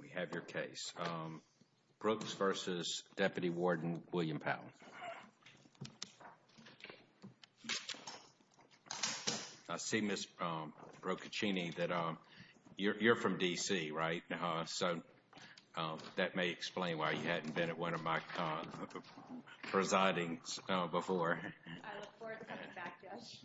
We have your case. Brooks v. Deputy Warden William Powell. I see, Ms. Broccaccini, that you're from D.C., right? So that may explain why you hadn't been at one of my presidings before. I look forward to coming back, Judge.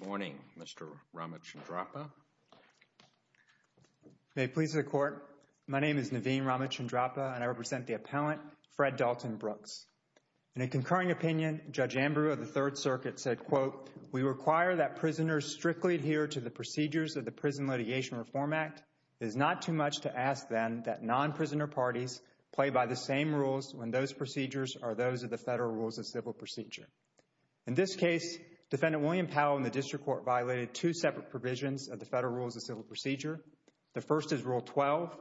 Good morning, Mr. Ramachandrappa. May it please the Court, my name is Naveen Ramachandrappa, and I represent the appellant, Fred Dalton Brooks. In a concurring opinion, Judge Ambrew of the Third Circuit said, quote, We require that prisoners strictly adhere to the procedures of the Prison Litigation Reform Act. It is not too much to ask, then, that non-prisoner parties play by the same rules when those procedures are those of the Federal Rules of Civil Procedure. In this case, Defendant William Powell and the District Court violated two separate provisions of the Federal Rules of Civil Procedure. The first is Rule 12,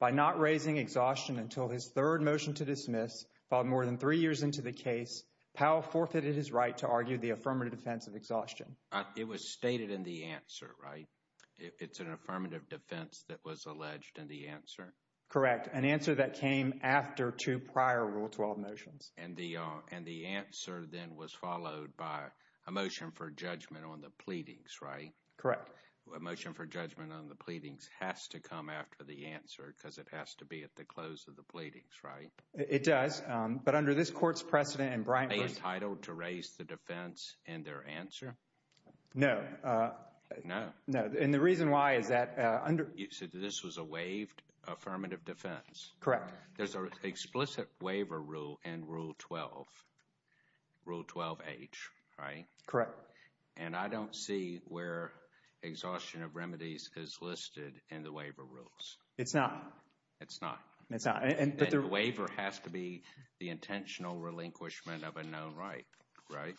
By not raising exhaustion until his third motion to dismiss, filed more than three years into the case, Powell forfeited his right to argue the affirmative defense of exhaustion. It was stated in the answer, right? It's an affirmative defense that was alleged in the answer? Correct. An answer that came after two prior Rule 12 motions. And the answer, then, was followed by a motion for judgment on the pleadings, right? Correct. A motion for judgment on the pleadings has to come after the answer because it has to be at the close of the pleadings, right? It does. But under this Court's precedent, and Brian first- Are they entitled to raise the defense in their answer? No. No. No. And the reason why is that under- You said this was a waived affirmative defense? Correct. There's an explicit waiver rule in Rule 12, Rule 12-H, right? Correct. And I don't see where exhaustion of remedies is listed in the waiver rules. It's not. It's not. It's not. And the waiver has to be the intentional relinquishment of a known right, right?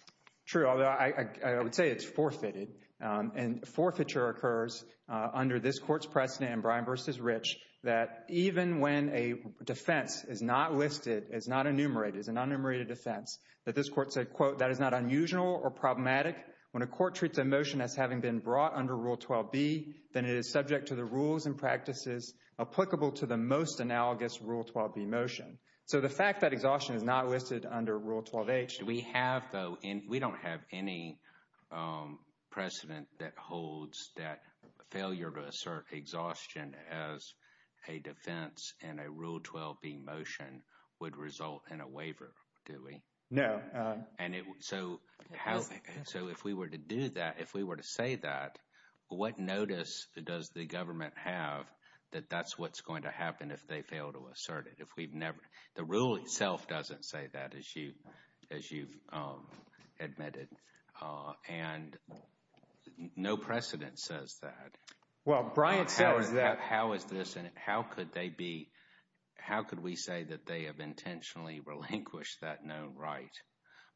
True. Although I would say it's forfeited. And forfeiture occurs under this Court's precedent, Brian versus Rich, that even when a defense is not listed, is not enumerated, is an unenumerated offense, that this Court said, quote, that is not unusual or problematic. When a court treats a motion as having been brought under Rule 12-B, then it is subject to the rules and practices applicable to the most analogous Rule 12-B motion. So the fact that exhaustion is not listed under Rule 12-H- We have, though, and we don't have any precedent that holds that failure to assert exhaustion as a defense in a Rule 12-B motion would result in a waiver, do we? No. And so, so if we were to do that, if we were to say that, what notice does the government have that that's what's going to happen if they fail to assert it? If we've never, the rule itself doesn't say that, as you've admitted. And no precedent says that. Well, Brian says that. How is this, and how could they be, how could we say that they have intentionally relinquished that known right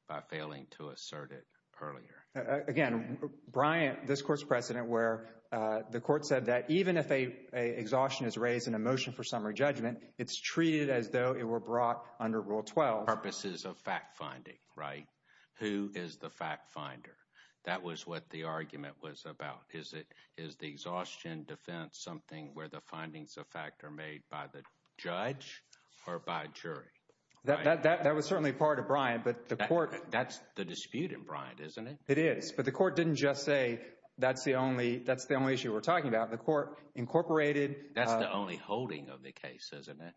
by failing to assert it earlier? Again, Brian, this Court's precedent where the Court said that even if a exhaustion is raised in a motion for summary judgment, it's treated as though it were brought under Rule 12. Purposes of fact-finding, right? Who is the fact-finder? That was what the argument was about. Is the exhaustion defense something where the findings of fact are made by the judge or by jury? That was certainly part of Brian, but the Court- That's the dispute in Brian, isn't it? It is, but the Court didn't just say that's the only issue we're talking about. The Court incorporated- That's the only holding of the case, isn't it?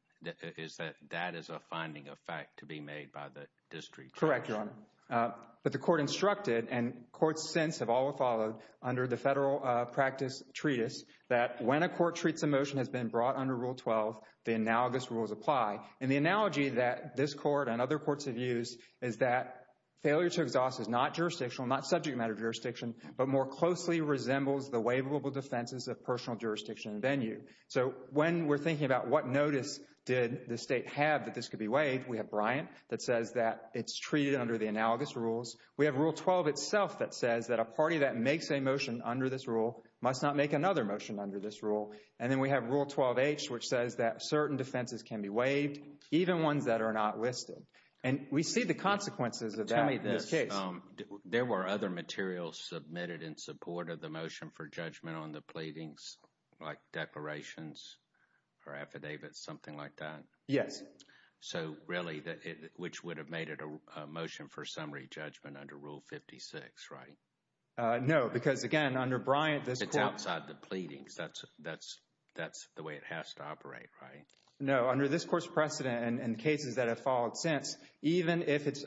That is a finding of fact to be made by the district judge. Correct, Your Honor. But the Court instructed, and Courts since have all followed under the federal practice treatise, that when a Court treats a motion has been brought under Rule 12, the analogous rules apply. And the analogy that this Court and other Courts have used is that failure to exhaust is not jurisdictional, not subject matter jurisdiction, but more closely resembles the waivable defenses of personal jurisdiction and venue. So when we're thinking about what notice did the State have that this could be waived, we have Brian that says that it's treated under the analogous rules. We have Rule 12 itself that says that a party that makes a motion under this rule must not make another motion under this rule. And then we have Rule 12H, which says that certain defenses can be waived, even ones that are not listed. And we see the consequences of that in this case. There were other materials submitted in support of the motion for judgment on the pleadings, like declarations or affidavits, something like that. Yes. So really, which would have made it a motion for summary judgment under Rule 56, right? No, because again, under Brian, this Court... It's outside the pleadings. That's the way it has to operate, right? No, under this Court's precedent and cases that have followed since, even if it's,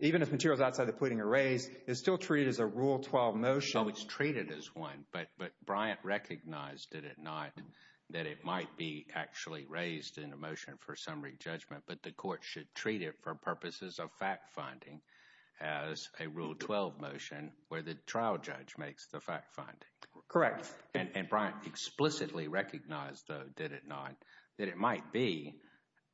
even if materials outside the pleading are raised, it's still treated as a Rule 12 motion. It's treated as one, but Brian recognized, did it not, that it might be actually raised in a motion for summary judgment, but the Court should treat it for purposes of fact-finding as a Rule 12 motion where the trial judge makes the fact-finding. Correct. And Brian explicitly recognized, though, did it not, that it might be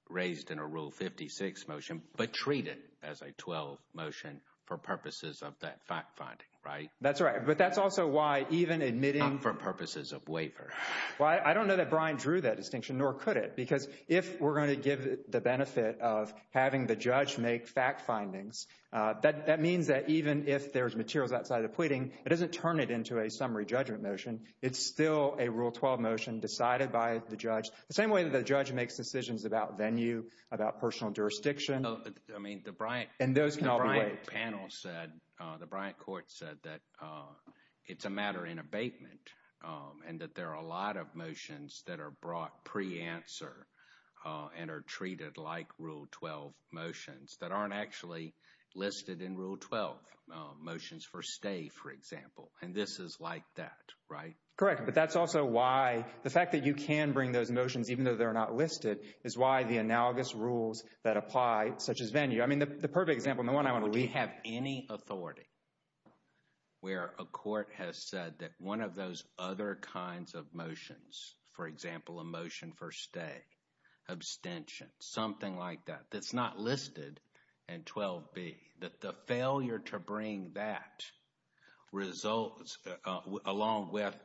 raised in a Rule 56 motion, but treat it as a 12 motion for purposes of that fact-finding, right? That's right, but that's also why even admitting... For purposes of waiver. Well, I don't know that Brian drew that distinction, nor could it, because if we're going to give the benefit of having the judge make fact-findings, that means that even if there's materials outside the pleading, it doesn't turn it into a summary judgment motion. It's still a Rule 12 motion decided by the judge, the same way that the judge makes decisions about venue, about personal jurisdiction. I mean, the Brian... And those can all be weighed. The panel said, the Bryant Court said that it's a matter in abatement and that there are a lot of motions that are brought pre-answer and are treated like Rule 12 motions that aren't actually listed in Rule 12 motions for stay, for example, and this is like that, right? Correct, but that's also why the fact that you can bring those motions, even though they're not listed, is why the analogous rules that apply, such as venue... The perfect example and the one I want to... We have any authority where a court has said that one of those other kinds of motions, for example, a motion for stay, abstention, something like that, that's not listed in 12b, that the failure to bring that results along with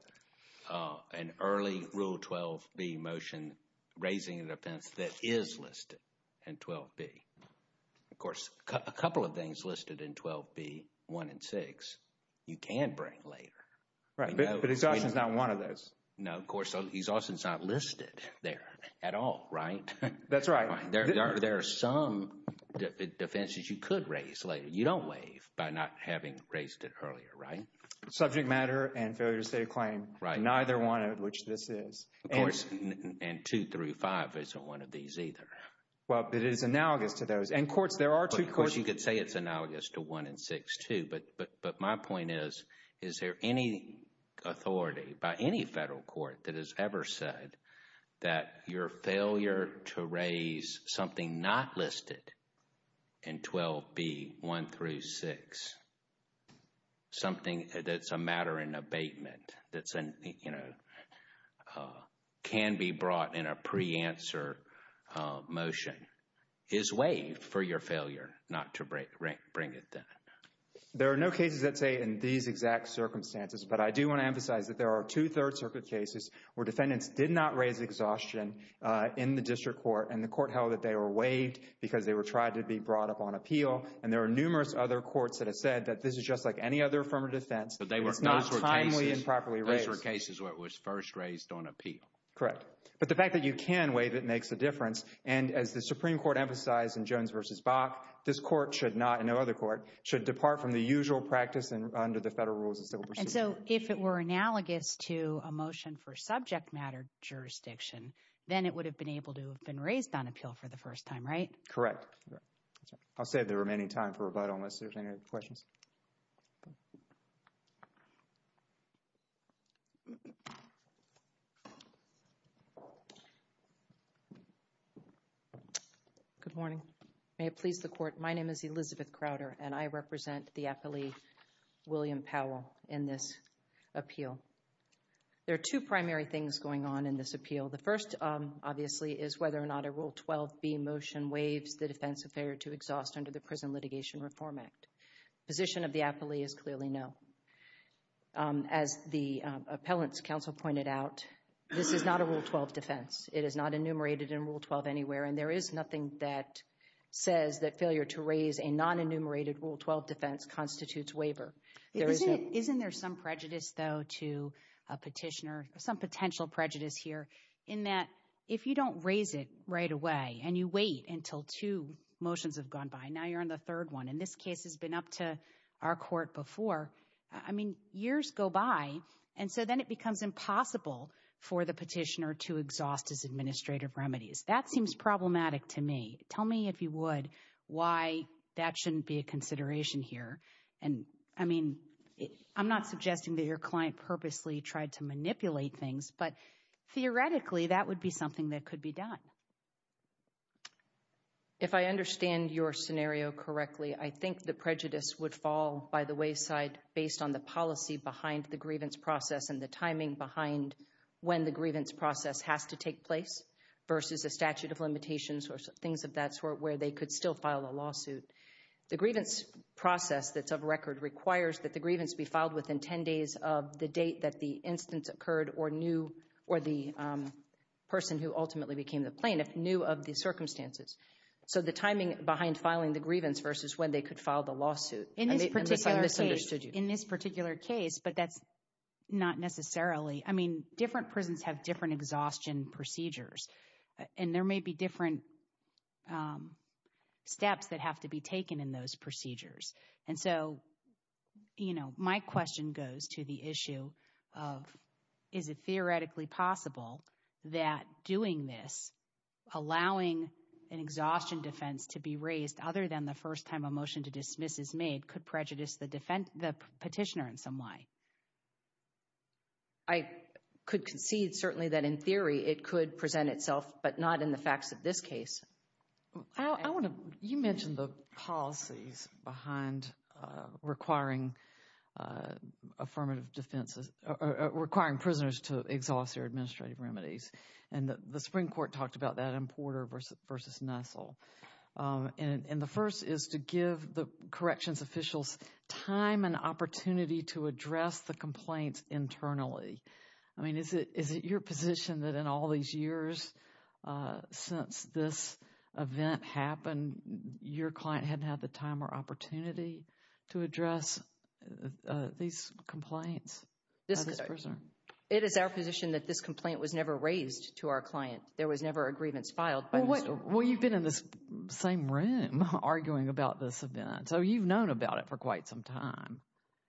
an early Rule 12b motion, raising an offense that is listed in 12b. A couple of things listed in 12b, 1 and 6, you can bring later. Right, but exhaustion is not one of those. No, of course, exhaustion is not listed there at all, right? That's right. There are some defenses you could raise later. You don't waive by not having raised it earlier, right? Subject matter and failure to state a claim, neither one of which this is. Of course, and 2 through 5 isn't one of these either. Well, it is analogous to those. Of course, you could say it's analogous to 1 and 6 too. But my point is, is there any authority by any federal court that has ever said that your failure to raise something not listed in 12b, 1 through 6, something that's a matter in abatement, that can be brought in a pre-answer motion, is waived for your failure not to bring it then? There are no cases that say in these exact circumstances. But I do want to emphasize that there are two Third Circuit cases where defendants did not raise exhaustion in the district court. And the court held that they were waived because they were tried to be brought up on appeal. And there are numerous other courts that have said that this is just like any other affirmative defense. But those were cases where it was first raised on appeal. Correct. But the fact that you can waive it makes a difference. And as the Supreme Court emphasized in Jones v. Bach, this court should not, and no other court, should depart from the usual practice under the federal rules of civil procedure. And so if it were analogous to a motion for subject matter jurisdiction, then it would have been able to have been raised on appeal for the first time, right? Correct. I'll save the remaining time for a vote unless there's any questions. Good morning. May it please the court, my name is Elizabeth Crowder, and I represent the appellee William Powell in this appeal. There are two primary things going on in this appeal. The first, obviously, is whether or not a Rule 12b motion waives the defense of failure to exhaust under the Prison Litigation Reform Act. Position of the appellee is clearly no. As the appellant's counsel pointed out, this is not a Rule 12 defense. It is not enumerated in Rule 12 anywhere, and there is nothing that says that failure to raise a non-enumerated Rule 12 defense constitutes waiver. Isn't there some prejudice, though, to a petitioner, some potential prejudice here, in that if you don't raise it right away, and you wait until two motions have gone by, now you're on the third one, and this case has been up to our court before, I mean, years go by, and so then it becomes impossible for the petitioner to exhaust his administrative remedies. That seems problematic to me. Tell me, if you would, why that shouldn't be a consideration here. And, I mean, I'm not suggesting that your client purposely tried to manipulate things, but theoretically, that would be something that could be done. If I understand your scenario correctly, I think the prejudice would fall by the wayside based on the policy behind the grievance process and the timing behind when the grievance process has to take place versus a statute of limitations or things of that sort where they could still file a lawsuit. The grievance process that's of record requires that the grievance be filed within 10 days of the date that the instance occurred or the person who ultimately became the plaintiff knew of the circumstances. In this particular case, but that's not necessarily, I mean, different prisons have different exhaustion procedures, and there may be different steps that have to be taken in those procedures. And so, you know, my question goes to the issue of, is it theoretically possible that doing this, allowing an exhaustion defense to be raised other than the first time a motion to dismiss is made, could prejudice the petitioner in some way? I could concede certainly that in theory it could present itself, but not in the facts of this case. I want to, you mentioned the policies behind requiring affirmative defenses, requiring prisoners to exhaust their administrative remedies, and the Supreme Court talked about that in Porter versus Nestle. And the first is to give the corrections officials time and opportunity to address the complaints internally. I mean, is it your position that in all these years since this event happened, your client hadn't had the time or opportunity to address these complaints? It is our position that this complaint was never raised to our client. There was never a grievance filed. Well, you've been in this same room arguing about this event, so you've known about it for quite some time.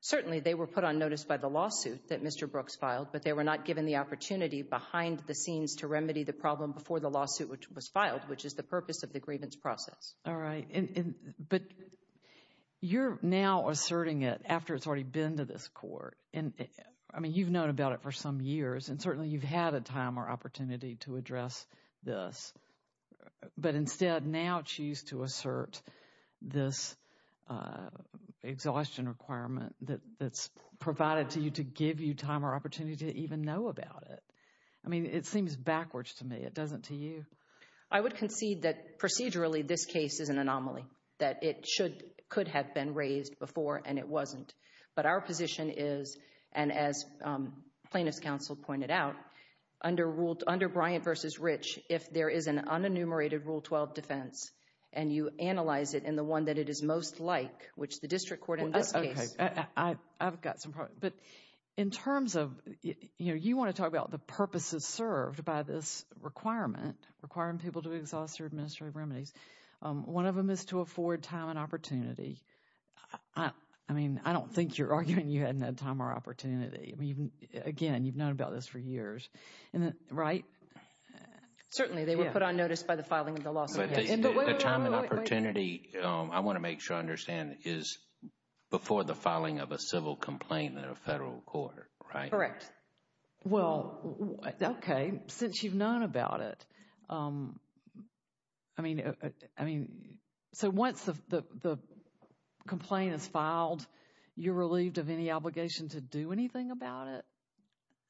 Certainly, they were put on notice by the lawsuit that Mr. Brooks filed, but they were not given the opportunity behind the scenes to remedy the problem before the lawsuit was filed, which is the purpose of the grievance process. All right, but you're now asserting it after it's already been to this court, and I mean, you've known about it for some years, and certainly you've had a time or opportunity to address this. But instead, now choose to assert this exhaustion requirement that's provided to you to give you time or opportunity to even know about it. I mean, it seems backwards to me. It doesn't to you. I would concede that procedurally, this case is an anomaly, that it could have been raised before, and it wasn't. But our position is, and as plaintiff's counsel pointed out, under Bryant v. Rich, if there is an unenumerated Rule 12 defense, and you analyze it in the one that it is most like, which the district court in this case. I've got some problems, but in terms of, you know, you want to talk about the purposes served by this requirement, requiring people to exhaust their administrative remedies. One of them is to afford time and opportunity. I mean, I don't think you're arguing you hadn't had time or opportunity. I mean, again, you've known about this for years. Right? Certainly, they were put on notice by the filing of the lawsuit. But the time and opportunity, I want to make sure I understand, is before the filing of a civil complaint in a federal court, right? Correct. Well, okay, since you've known about it. I mean, so once the complaint is filed, you're relieved of any obligation to do anything about it.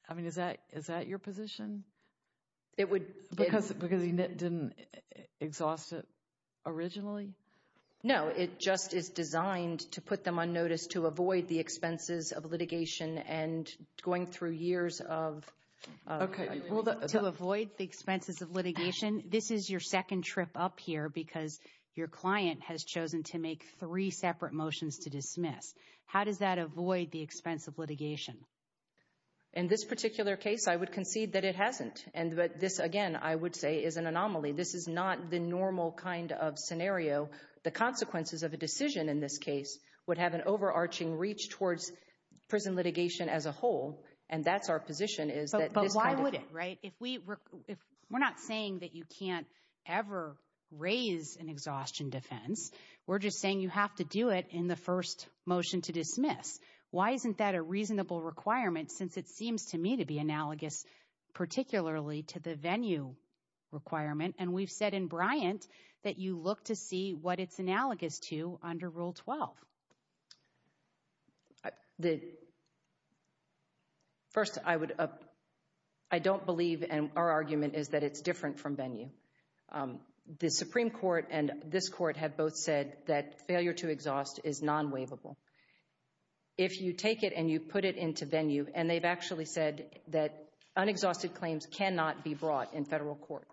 I mean, is that your position? It would... Because it didn't exhaust it originally? No, it just is designed to put them on notice to avoid the expenses of litigation and going through years of... Okay. To avoid the expenses of litigation. This is your second trip up here, because your client has chosen to make three separate motions to dismiss. How does that avoid the expense of litigation? In this particular case, I would concede that it hasn't. And this, again, I would say is an anomaly. This is not the normal kind of scenario. The consequences of a decision in this case would have an overarching reach towards prison litigation as a whole. And that's our position, is that this kind of thing... But why would it, right? We're not saying that you can't ever raise an exhaustion defense. We're just saying you have to do it in the first motion to dismiss. Why isn't that a reasonable requirement, since it seems to me to be analogous particularly to the venue requirement? And we've said in Bryant that you look to see what it's analogous to under Rule 12. First, I don't believe, and our argument is that it's different from venue. The Supreme Court and this court have both said that failure to exhaust is non-waivable. If you take it and you put it into venue, and they've actually said that unexhausted claims cannot be brought in federal court.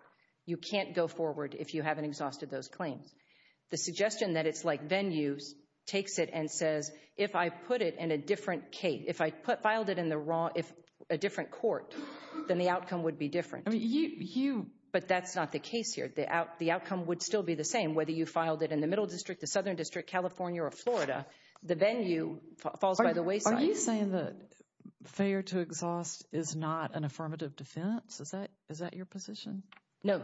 You can't go forward if you haven't exhausted those claims. The suggestion that it's like venues takes it and says, if I put it in a different case, if I filed it in a different court, then the outcome would be different. But that's not the case here. The outcome would still be the same, the venue falls by the wayside. Are you saying that failure to exhaust is not an affirmative defense? Is that your position? No,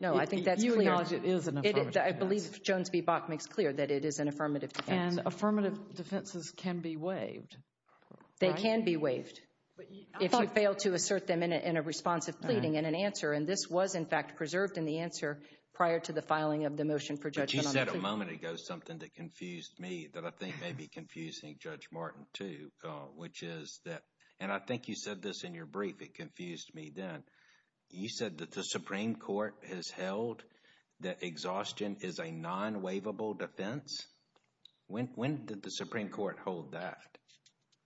no. I think that's clear. You acknowledge it is an affirmative defense. I believe Jones v. Bach makes clear that it is an affirmative defense. And affirmative defenses can be waived. They can be waived. If you fail to assert them in a responsive pleading and an answer, and this was in fact preserved in the answer prior to the filing of the motion for judgment. You said a moment ago something that confused me, that I think may be confusing Judge Martin too, which is that, and I think you said this in your brief, it confused me then. You said that the Supreme Court has held that exhaustion is a non-waivable defense. When did the Supreme Court hold that?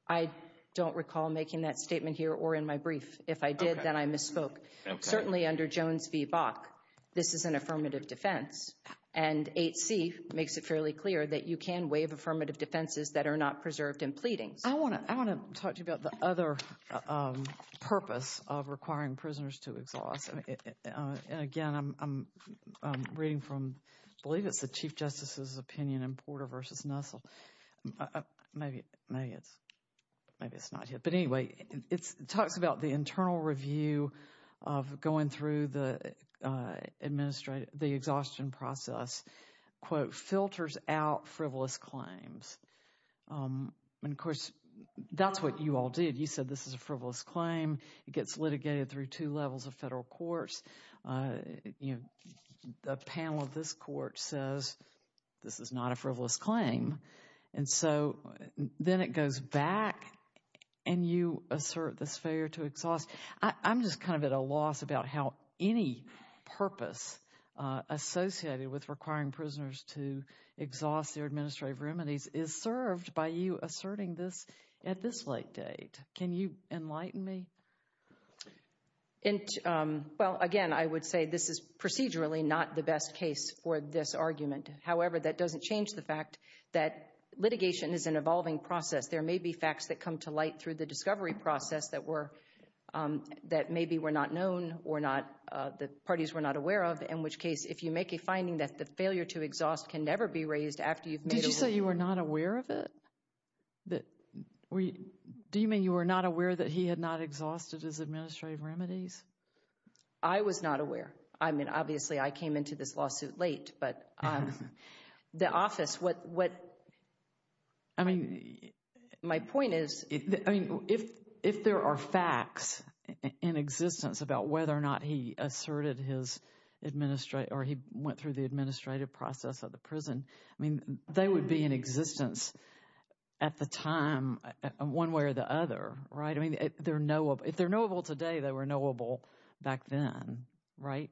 I don't recall making that statement here or in my brief. If I did, then I misspoke. Certainly under Jones v. Bach, this is an affirmative defense. And 8C makes it fairly clear that you can waive affirmative defenses that are not preserved in pleadings. I want to talk to you about the other purpose of requiring prisoners to exhaust. And again, I'm reading from, I believe it's the Chief Justice's opinion in Porter v. Nussel. Maybe it's not here. It talks about the internal review of going through the exhaustion process, quote, filters out frivolous claims. And of course, that's what you all did. You said this is a frivolous claim. It gets litigated through two levels of federal courts. The panel of this court says this is not a frivolous claim. And so then it goes back and you assert this failure to exhaust. I'm just kind of at a loss about how any purpose associated with requiring prisoners to exhaust their administrative remedies is served by you asserting this at this late date. Can you enlighten me? Well, again, I would say this is procedurally not the best case for this argument. However, that doesn't change the fact that litigation is an evolving process. There may be facts that come to light through the discovery process that were, that maybe were not known or not, the parties were not aware of. In which case, if you make a finding that the failure to exhaust can never be raised after you've made a rule. Did you say you were not aware of it? Do you mean you were not aware that he had not exhausted his administrative remedies? I was not aware. I mean, obviously, I came into this lawsuit late. But the office, what I mean, my point is, I mean, if there are facts in existence about whether or not he asserted his administrative or he went through the administrative process of the prison, I mean, they would be in existence at the time, one way or the other. Right. I mean, they're knowable. If they're knowable today, they were knowable back then. Right.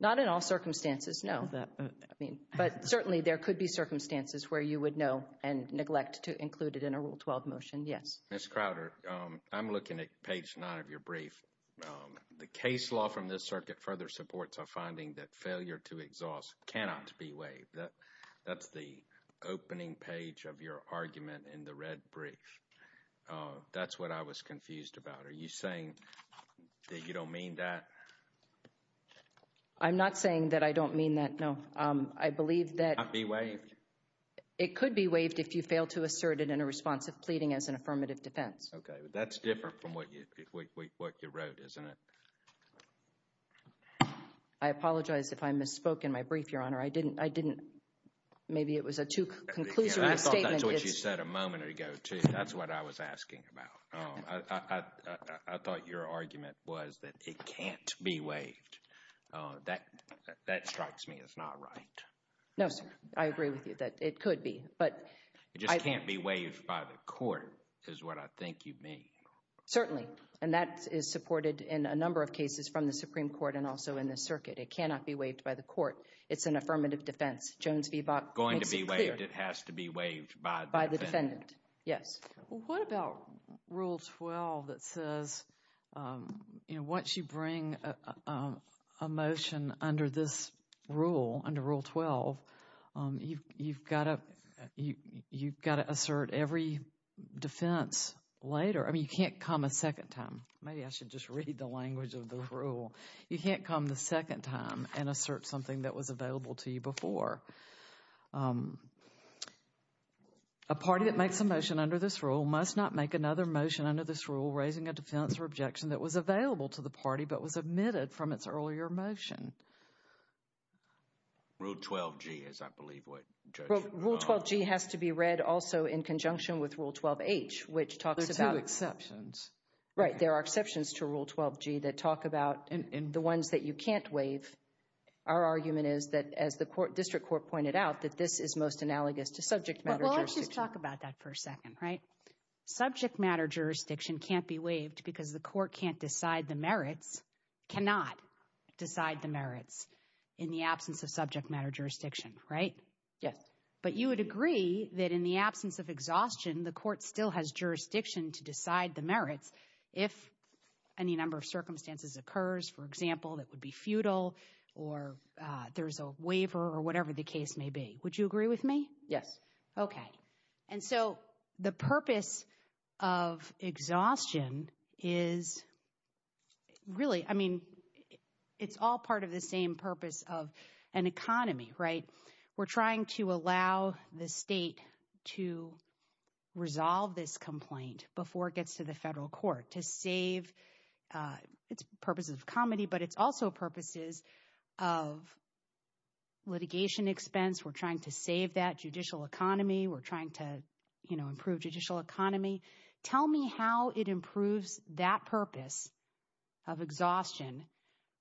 Not in all circumstances. I mean, but certainly there could be circumstances where you would know and neglect to include it in a Rule 12 motion. Yes. Ms. Crowder, I'm looking at page nine of your brief. The case law from this circuit further supports a finding that failure to exhaust cannot be waived. That's the opening page of your argument in the red brief. That's what I was confused about. Are you saying that you don't mean that? I'm not saying that I don't mean that. No. It can't be waived. It could be waived if you fail to assert it in a response of pleading as an affirmative defense. Okay. That's different from what you wrote, isn't it? I apologize if I misspoke in my brief, Your Honor. I didn't, I didn't, maybe it was a too conclusory statement. That's what you said a moment ago, too. That's what I was asking about. I thought your argument was that it can't be waived. That, that strikes me as not right. No, sir. I agree with you that it could be, but. It just can't be waived by the court is what I think you mean. Certainly. And that is supported in a number of cases from the Supreme Court and also in this circuit. It cannot be waived by the court. It's an affirmative defense. Jones v. Bok makes it clear. Going to be waived, it has to be waived by the defendant. Yes. Well, what about Rule 12 that says, you know, once you bring a motion under this rule, under Rule 12, you've got to, you've got to assert every defense later. I mean, you can't come a second time. Maybe I should just read the language of the rule. You can't come the second time and assert something that was available to you before. A party that makes a motion under this rule must not make another motion under this rule raising a defense or objection that was available to the party but was omitted from its earlier motion. Rule 12G is, I believe, what, Judge? Rule 12G has to be read also in conjunction with Rule 12H, which talks about. There are two exceptions. Right. There are exceptions to Rule 12G that talk about the ones that you can't waive. Our argument is that, as the District Court pointed out, that this is most analogous to subject matter jurisdiction. Well, let's just talk about that for a second, right? Subject matter jurisdiction can't be waived because the court can't decide the merits, cannot decide the merits in the absence of subject matter jurisdiction, right? Yes. But you would agree that in the absence of exhaustion, the court still has jurisdiction to decide the merits if any number of circumstances occurs. For example, that would be futile or there's a waiver or whatever the case may be. Would you agree with me? Yes. Okay. And so the purpose of exhaustion is really, I mean, it's all part of the same purpose of an economy, right? We're trying to allow the state to resolve this complaint before it gets to the federal court to save, it's purposes of comedy, but it's also purposes of litigation expense. We're trying to save that judicial economy. We're trying to, you know, improve judicial economy. Tell me how it improves that purpose of exhaustion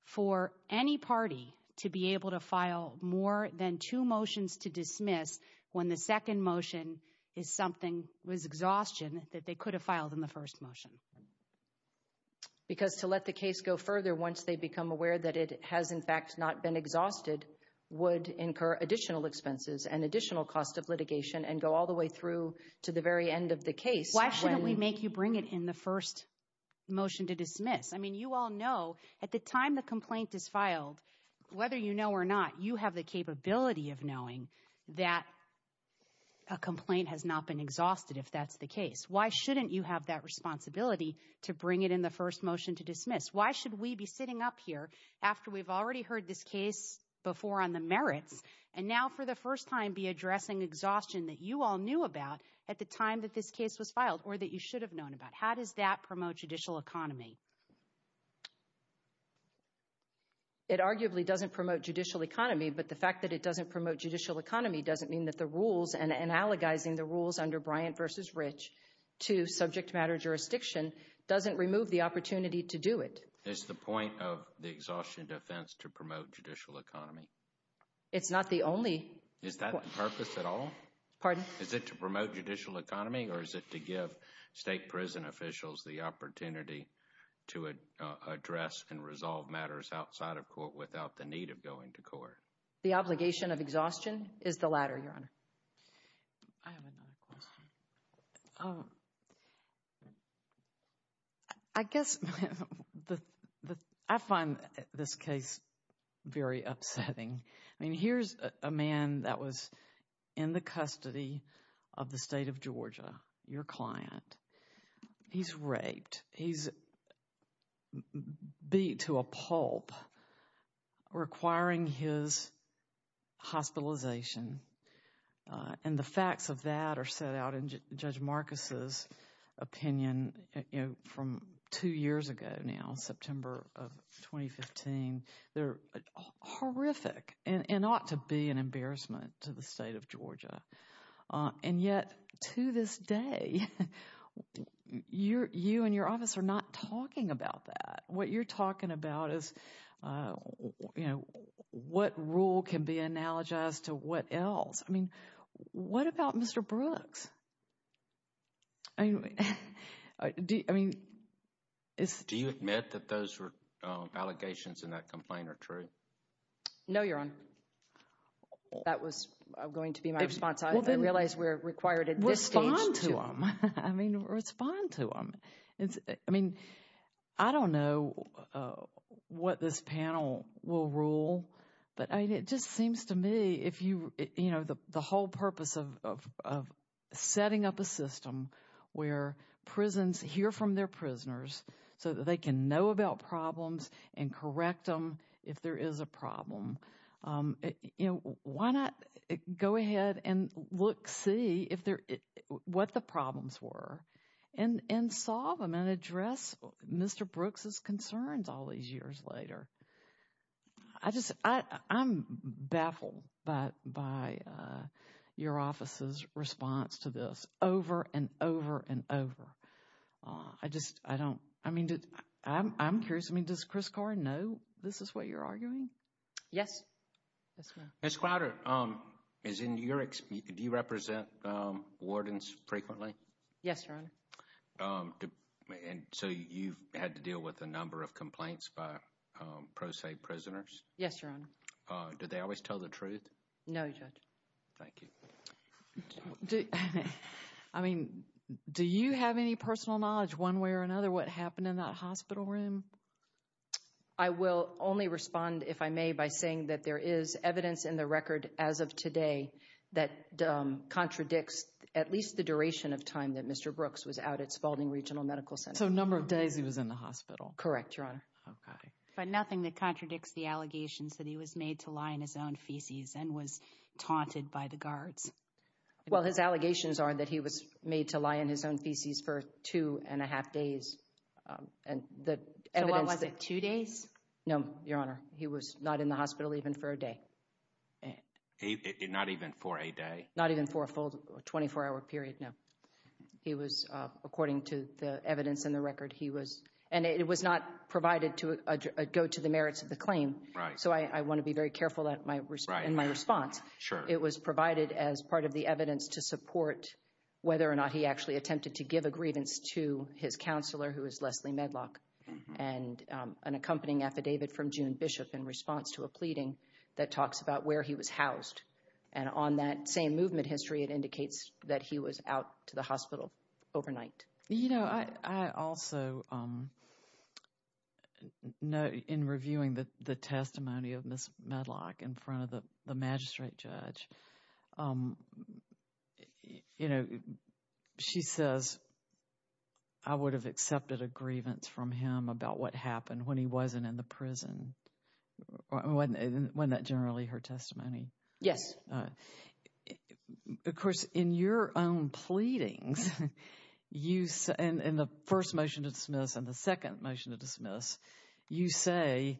for any party to be able to file more than two motions to dismiss when the second motion is something, was exhaustion that they could have filed in the first motion? Because to let the case go further, once they become aware that it has in fact not been exhausted, would incur additional expenses and additional cost of litigation and go all the way through to the very end of the case. Why shouldn't we make you bring it in the first motion to dismiss? I mean, you all know at the time the complaint is filed, whether you know or not, you have the capability of knowing that a complaint has not been exhausted if that's the case. Why shouldn't you have that responsibility to bring it in the first motion to dismiss? Why should we be sitting up here after we've already heard this case before on the merits and now for the first time be addressing exhaustion that you all knew about at the time that this case was filed or that you should have known about? How does that promote judicial economy? It arguably doesn't promote judicial economy, but the fact that it doesn't promote judicial economy doesn't mean that the rules and analogizing the rules under Bryant versus Rich to subject matter jurisdiction doesn't remove the opportunity to do it. Is the point of the exhaustion defense to promote judicial economy? It's not the only. Is that the purpose at all? Pardon? Is it to promote judicial economy or is it to give state prison officials the opportunity to address and resolve matters outside of court without the need of going to court? The obligation of exhaustion is the latter, Your Honor. I have another question. I guess I find this case very upsetting. I mean, here's a man that was in the custody of the state of Georgia, your client. He's raped. He's beat to a pulp requiring his hospitalization. And the facts of that are set out in Judge Marcus's opinion from two years ago now, September of 2015. They're horrific and ought to be an embarrassment to the state of Georgia. And yet, to this day, you and your office are not talking about that. What you're talking about is, you know, what rule can be analogized to what else? I mean, what about Mr. Brooks? I mean, do you admit that those allegations in that complaint are true? No, Your Honor. That was going to be my response. I realize we're required to respond to them. I mean, respond to them. I mean, I don't know what this panel will rule. But it just seems to me if you, you know, the whole purpose of setting up a system where prisons hear from their prisoners so that they can know about problems and correct them if there is a problem. You know, why not go ahead and look, see if there, what the problems were and solve them and address Mr. Brooks's concerns all these years later? I just, I'm baffled by your office's response to this over and over and over. I just, I don't, I mean, I'm curious. I mean, does Chris Carr know this is what you're arguing? Yes. Ms. Crowder, is in your, do you represent wardens frequently? Yes, Your Honor. And so you've had to deal with a number of complaints by pro se prisoners? Yes, Your Honor. Do they always tell the truth? No, Judge. Thank you. I mean, do you have any personal knowledge one way or another what happened in that hospital room? I will only respond if I may by saying that there is evidence in the record as of today that contradicts at least the duration of time that Mr. Brooks was out at Spaulding Regional Medical Center. So a number of days he was in the hospital? Correct, Your Honor. Okay. But nothing that contradicts the allegations that he was made to lie in his own feces and was taunted by the guards? Well, his allegations are that he was made to lie in his own feces for two and a half days. And the evidence... So what was it, two days? No, Your Honor. He was not in the hospital even for a day. Not even for a day? Not even for a full 24-hour period, no. He was, according to the evidence in the record, he was... And it was not provided to go to the merits of the claim. Right. So I want to be very careful in my response. Sure. It was provided as part of the evidence to support whether or not he actually attempted to give a grievance to his counselor, who is Leslie Medlock, and an accompanying affidavit from June Bishop in response to a pleading that talks about where he was housed. And on that same movement history, it indicates that he was out to the hospital overnight. You know, I also... In reviewing the testimony of Ms. Medlock in front of the magistrate judge, you know, she says, I would have accepted a grievance from him about what happened when he wasn't in the prison. Wasn't that generally her testimony? Yes. Of course, in your own pleadings, and the first motion to dismiss and the second motion to dismiss, you say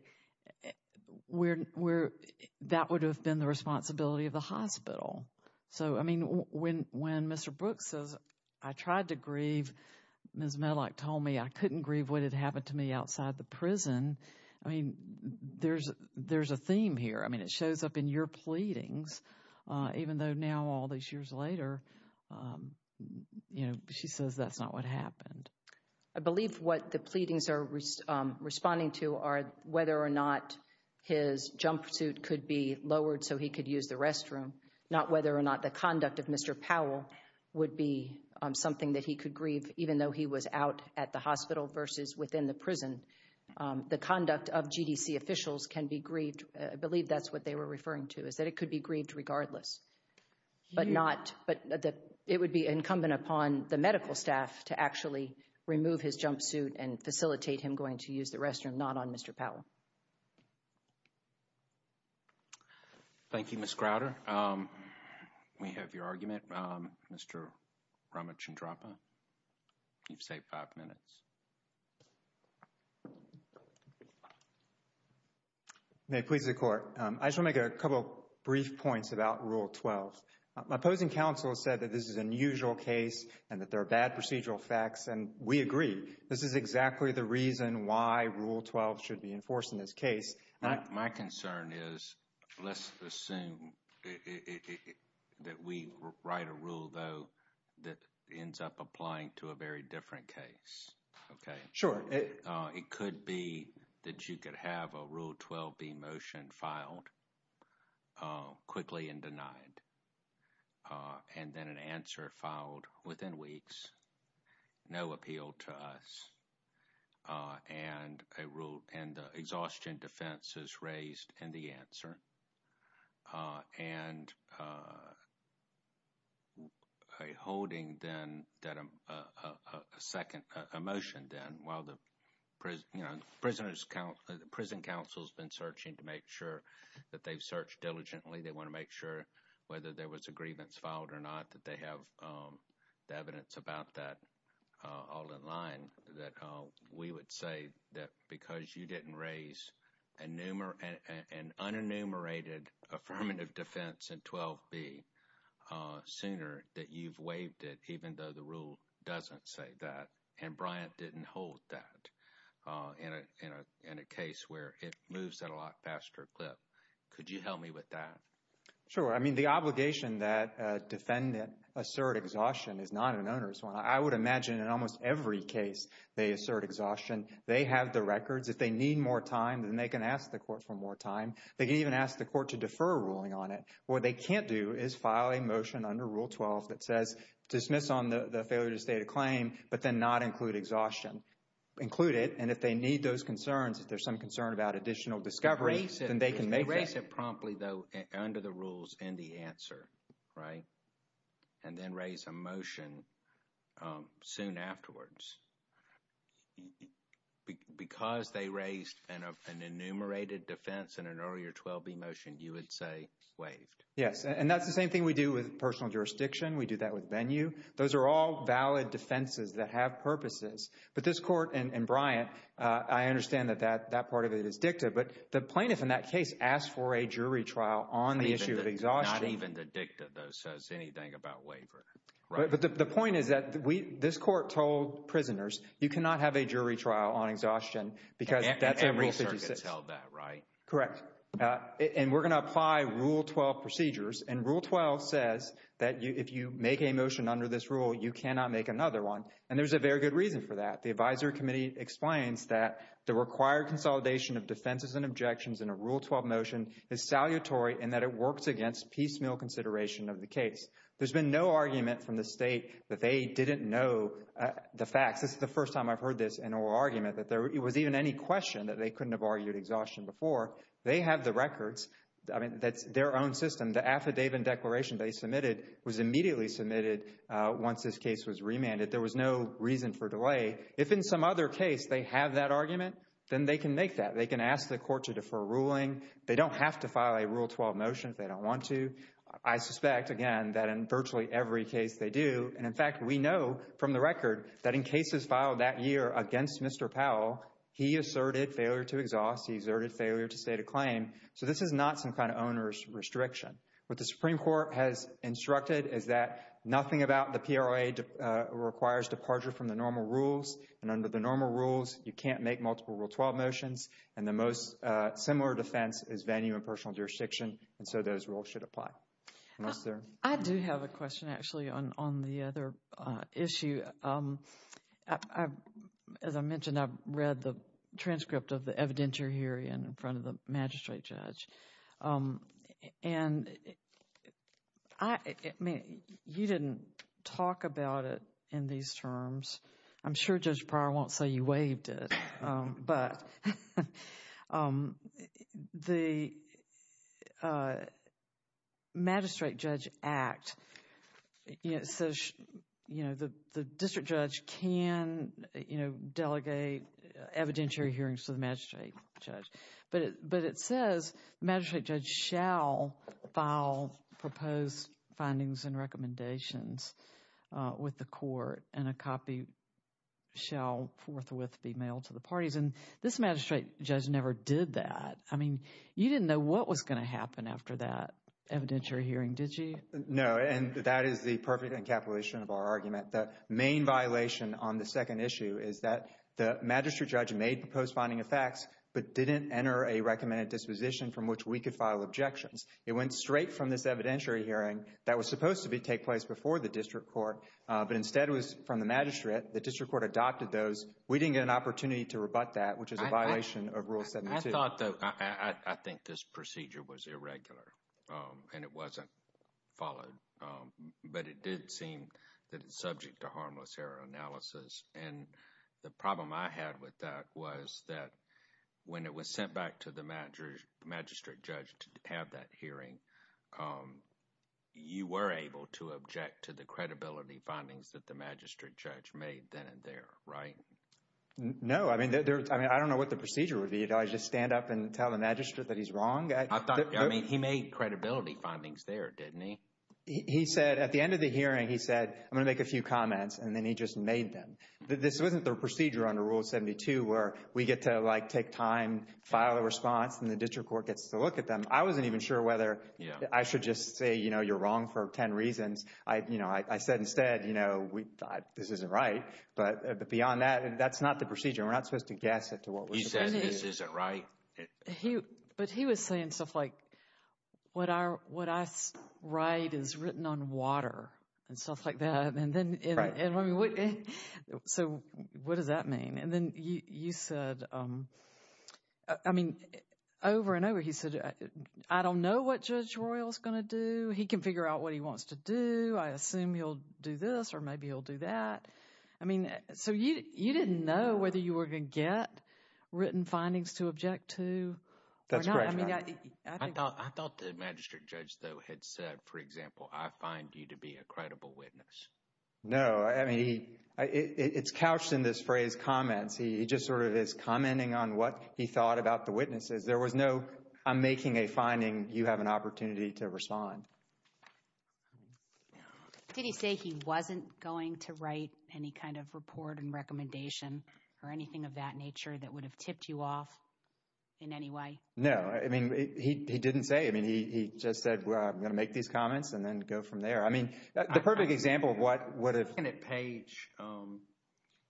that would have been the responsibility of the hospital. So, I mean, when Mr. Brooks says, I tried to grieve, Ms. Medlock told me I couldn't grieve what had happened to me outside the prison. I mean, there's a theme here. I mean, it shows up in your pleadings, even though now all these years later, you know, she says that's not what happened. I believe what the pleadings are responding to are whether or not his jumpsuit could be lowered so he could use the restroom, not whether or not the conduct of Mr. Powell would be something that he could grieve, even though he was out at the hospital versus within the prison. The conduct of GDC officials can be grieved. I believe that's what they were referring to, is that it could be grieved regardless. But it would be incumbent upon the medical staff to actually remove his jumpsuit and facilitate him going to use the restroom, not on Mr. Powell. Thank you, Ms. Crowder. We have your argument. Mr. Ramachandrappa, you've saved five minutes. May it please the Court. I just want to make a couple brief points about Rule 12. My opposing counsel has said that this is an unusual case and that there are bad procedural facts, and we agree. This is exactly the reason why Rule 12 should be enforced in this case. My concern is, let's assume that we write a rule, though, that ends up applying to a very different case, okay? Sure. It could be that you could have a Rule 12b motion filed quickly and denied, and then an answer filed within weeks, no appeal to us, and an exhaustion defense is raised in the answer. And a holding then, a motion then, while the prison counsel has been searching to make sure that they've searched diligently, they want to make sure whether there was a grievance filed or not, that they have the evidence about that all in line, that we would say that because you didn't raise an unenumerated affirmative defense in 12b sooner, that you've waived it, even though the rule doesn't say that. And Bryant didn't hold that in a case where it moves that a lot faster clip. Could you help me with that? Sure. I mean, the obligation that a defendant assert exhaustion is not an owner's one. I would imagine in almost every case they assert exhaustion. They have the records. If they need more time, then they can ask the court for more time. They can even ask the court to defer a ruling on it. What they can't do is file a motion under Rule 12 that says, dismiss on the failure to state a claim, but then not include exhaustion. Include it, and if they need those concerns, if there's some concern about additional discovery, then they can make it. Erase it promptly, though, under the rules in the answer, right? And then raise a motion soon afterwards. Because they raised an enumerated defense in an earlier 12b motion, you would say waived. Yes, and that's the same thing we do with personal jurisdiction. We do that with venue. Those are all valid defenses that have purposes. But this court and Bryant, I understand that that part of it is dicta, but the plaintiff in that case asked for a jury trial on the issue of exhaustion. Not even the dicta, though, says anything about waiver, right? The point is that this court told prisoners, you cannot have a jury trial on exhaustion because that's a rule 56. And rule circuits held that, right? Correct. And we're going to apply Rule 12 procedures. And Rule 12 says that if you make a motion under this rule, you cannot make another one. And there's a very good reason for that. The advisory committee explains that the required consolidation of defenses and objections in a Rule 12 motion is salutary in that it works against piecemeal consideration of the case. There's been no argument from the state that they didn't know the facts. This is the first time I've heard this in oral argument, that there was even any question that they couldn't have argued exhaustion before. They have the records. I mean, that's their own system. The affidavit and declaration they submitted was immediately submitted. Once this case was remanded, there was no reason for delay. If in some other case they have that argument, then they can make that. They can ask the court to defer ruling. They don't have to file a Rule 12 motion if they don't want to. I suspect, again, that in virtually every case they do. And in fact, we know from the record that in cases filed that year against Mr. Powell, he asserted failure to exhaust. He asserted failure to state a claim. So this is not some kind of owner's restriction. What the Supreme Court has instructed is that nothing about the PROA requires departure from the normal rules. And under the normal rules, you can't make multiple Rule 12 motions. And the most similar defense is venue and personal jurisdiction. And so those rules should apply. I do have a question actually on the other issue. As I mentioned, I've read the transcript of the evidentiary hearing in front of the magistrate judge. And I mean, you didn't talk about it in these terms. I'm sure Judge Pryor won't say you waived it. But the Magistrate Judge Act, it says, you know, the district judge can, you know, delegate evidentiary hearings to the magistrate judge. But it says the magistrate judge shall file proposed findings and recommendations with the court and a copy shall forthwith be mailed to the parties. And this magistrate judge never did that. I mean, you didn't know what was going to happen after that evidentiary hearing, did you? No, and that is the perfect encapsulation of our argument. The main violation on the second issue is that the magistrate judge made proposed finding of facts, but didn't enter a recommended disposition from which we could file objections. It went straight from this evidentiary hearing that was supposed to take place before the district court, but instead it was from the magistrate. The district court adopted those. We didn't get an opportunity to rebut that, which is a violation of Rule 72. I thought, though, I think this procedure was irregular and it wasn't followed. But it did seem that it's subject to harmless error analysis. And the problem I had with that was that when it was sent back to the magistrate judge to have that hearing, you were able to object to the credibility findings that the magistrate judge made then and there, right? No, I mean, I don't know what the procedure would be. Do I just stand up and tell the magistrate that he's wrong? I mean, he made credibility findings there, didn't he? He said at the end of the hearing, he said, I'm going to make a few comments, and then he just made them. This wasn't the procedure under Rule 72 where we get to, like, take time, file a response, and the district court gets to look at them. I wasn't even sure whether I should just say, you know, you're wrong for 10 reasons. I, you know, I said instead, you know, we thought this isn't right. But beyond that, that's not the procedure. We're not supposed to guess it to what we're supposed to do. He said this isn't right. But he was saying stuff like, what I write is written on water and stuff like that. And then, so what does that mean? And then you said, I mean, over and over he said, I don't know what Judge Royal is going to do. He can figure out what he wants to do. I assume he'll do this, or maybe he'll do that. I mean, so you didn't know whether you were going to get written findings to object to? That's correct. I thought the magistrate judge, though, had said, for example, I find you to be a credible witness. No, I mean, it's couched in this phrase comments. He just sort of is commenting on what he thought about the witnesses. There was no, I'm making a finding, you have an opportunity to respond. Did he say he wasn't going to write any kind of report and recommendation or anything of that nature that would have tipped you off in any way? No, I mean, he didn't say. I mean, he just said, well, I'm going to make these comments and then go from there. I mean, the perfect example of what would have...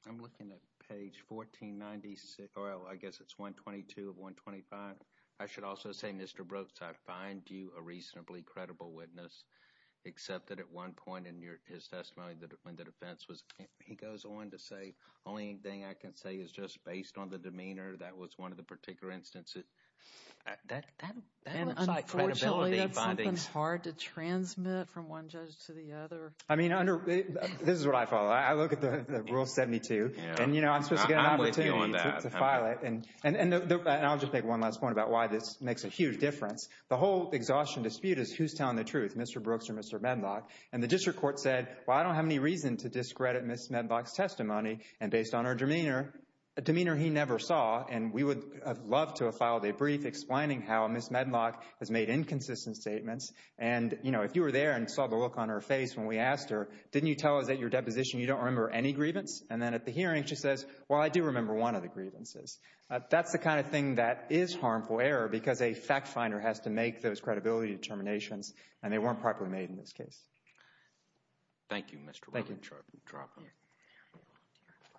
I'm looking at page 1496, or I guess it's 122 of 125. I should also say, Mr. Brooks, I find you a reasonably credible witness, except that at one point in his testimony, when the defense was, he goes on to say, only thing I can say is just based on the demeanor. That was one of the particular instances. That looks like credibility findings. Unfortunately, that's something hard to transmit from one judge to the other. I mean, this is what I follow. I look at the rule 72 and I'm supposed to get an opportunity to file it. And I'll just make one last point about why this makes a huge difference. The whole exhaustion dispute is who's telling the truth, Mr. Brooks or Mr. Medlock. And the district court said, well, I don't have any reason to discredit Ms. Medlock's testimony. And based on her demeanor, a demeanor he never saw, and we would love to have filed a brief explaining how Ms. Medlock has made inconsistent statements. And, you know, if you were there and saw the look on her face when we asked her, didn't you tell us that your deposition, you don't remember any grievance? And then at the hearing, she says, well, I do remember one of the grievances. That's the kind of thing that is harmful error, because a fact finder has to make those credibility determinations and they weren't properly made in this case. Thank you, Mr. Brooks. Thank you.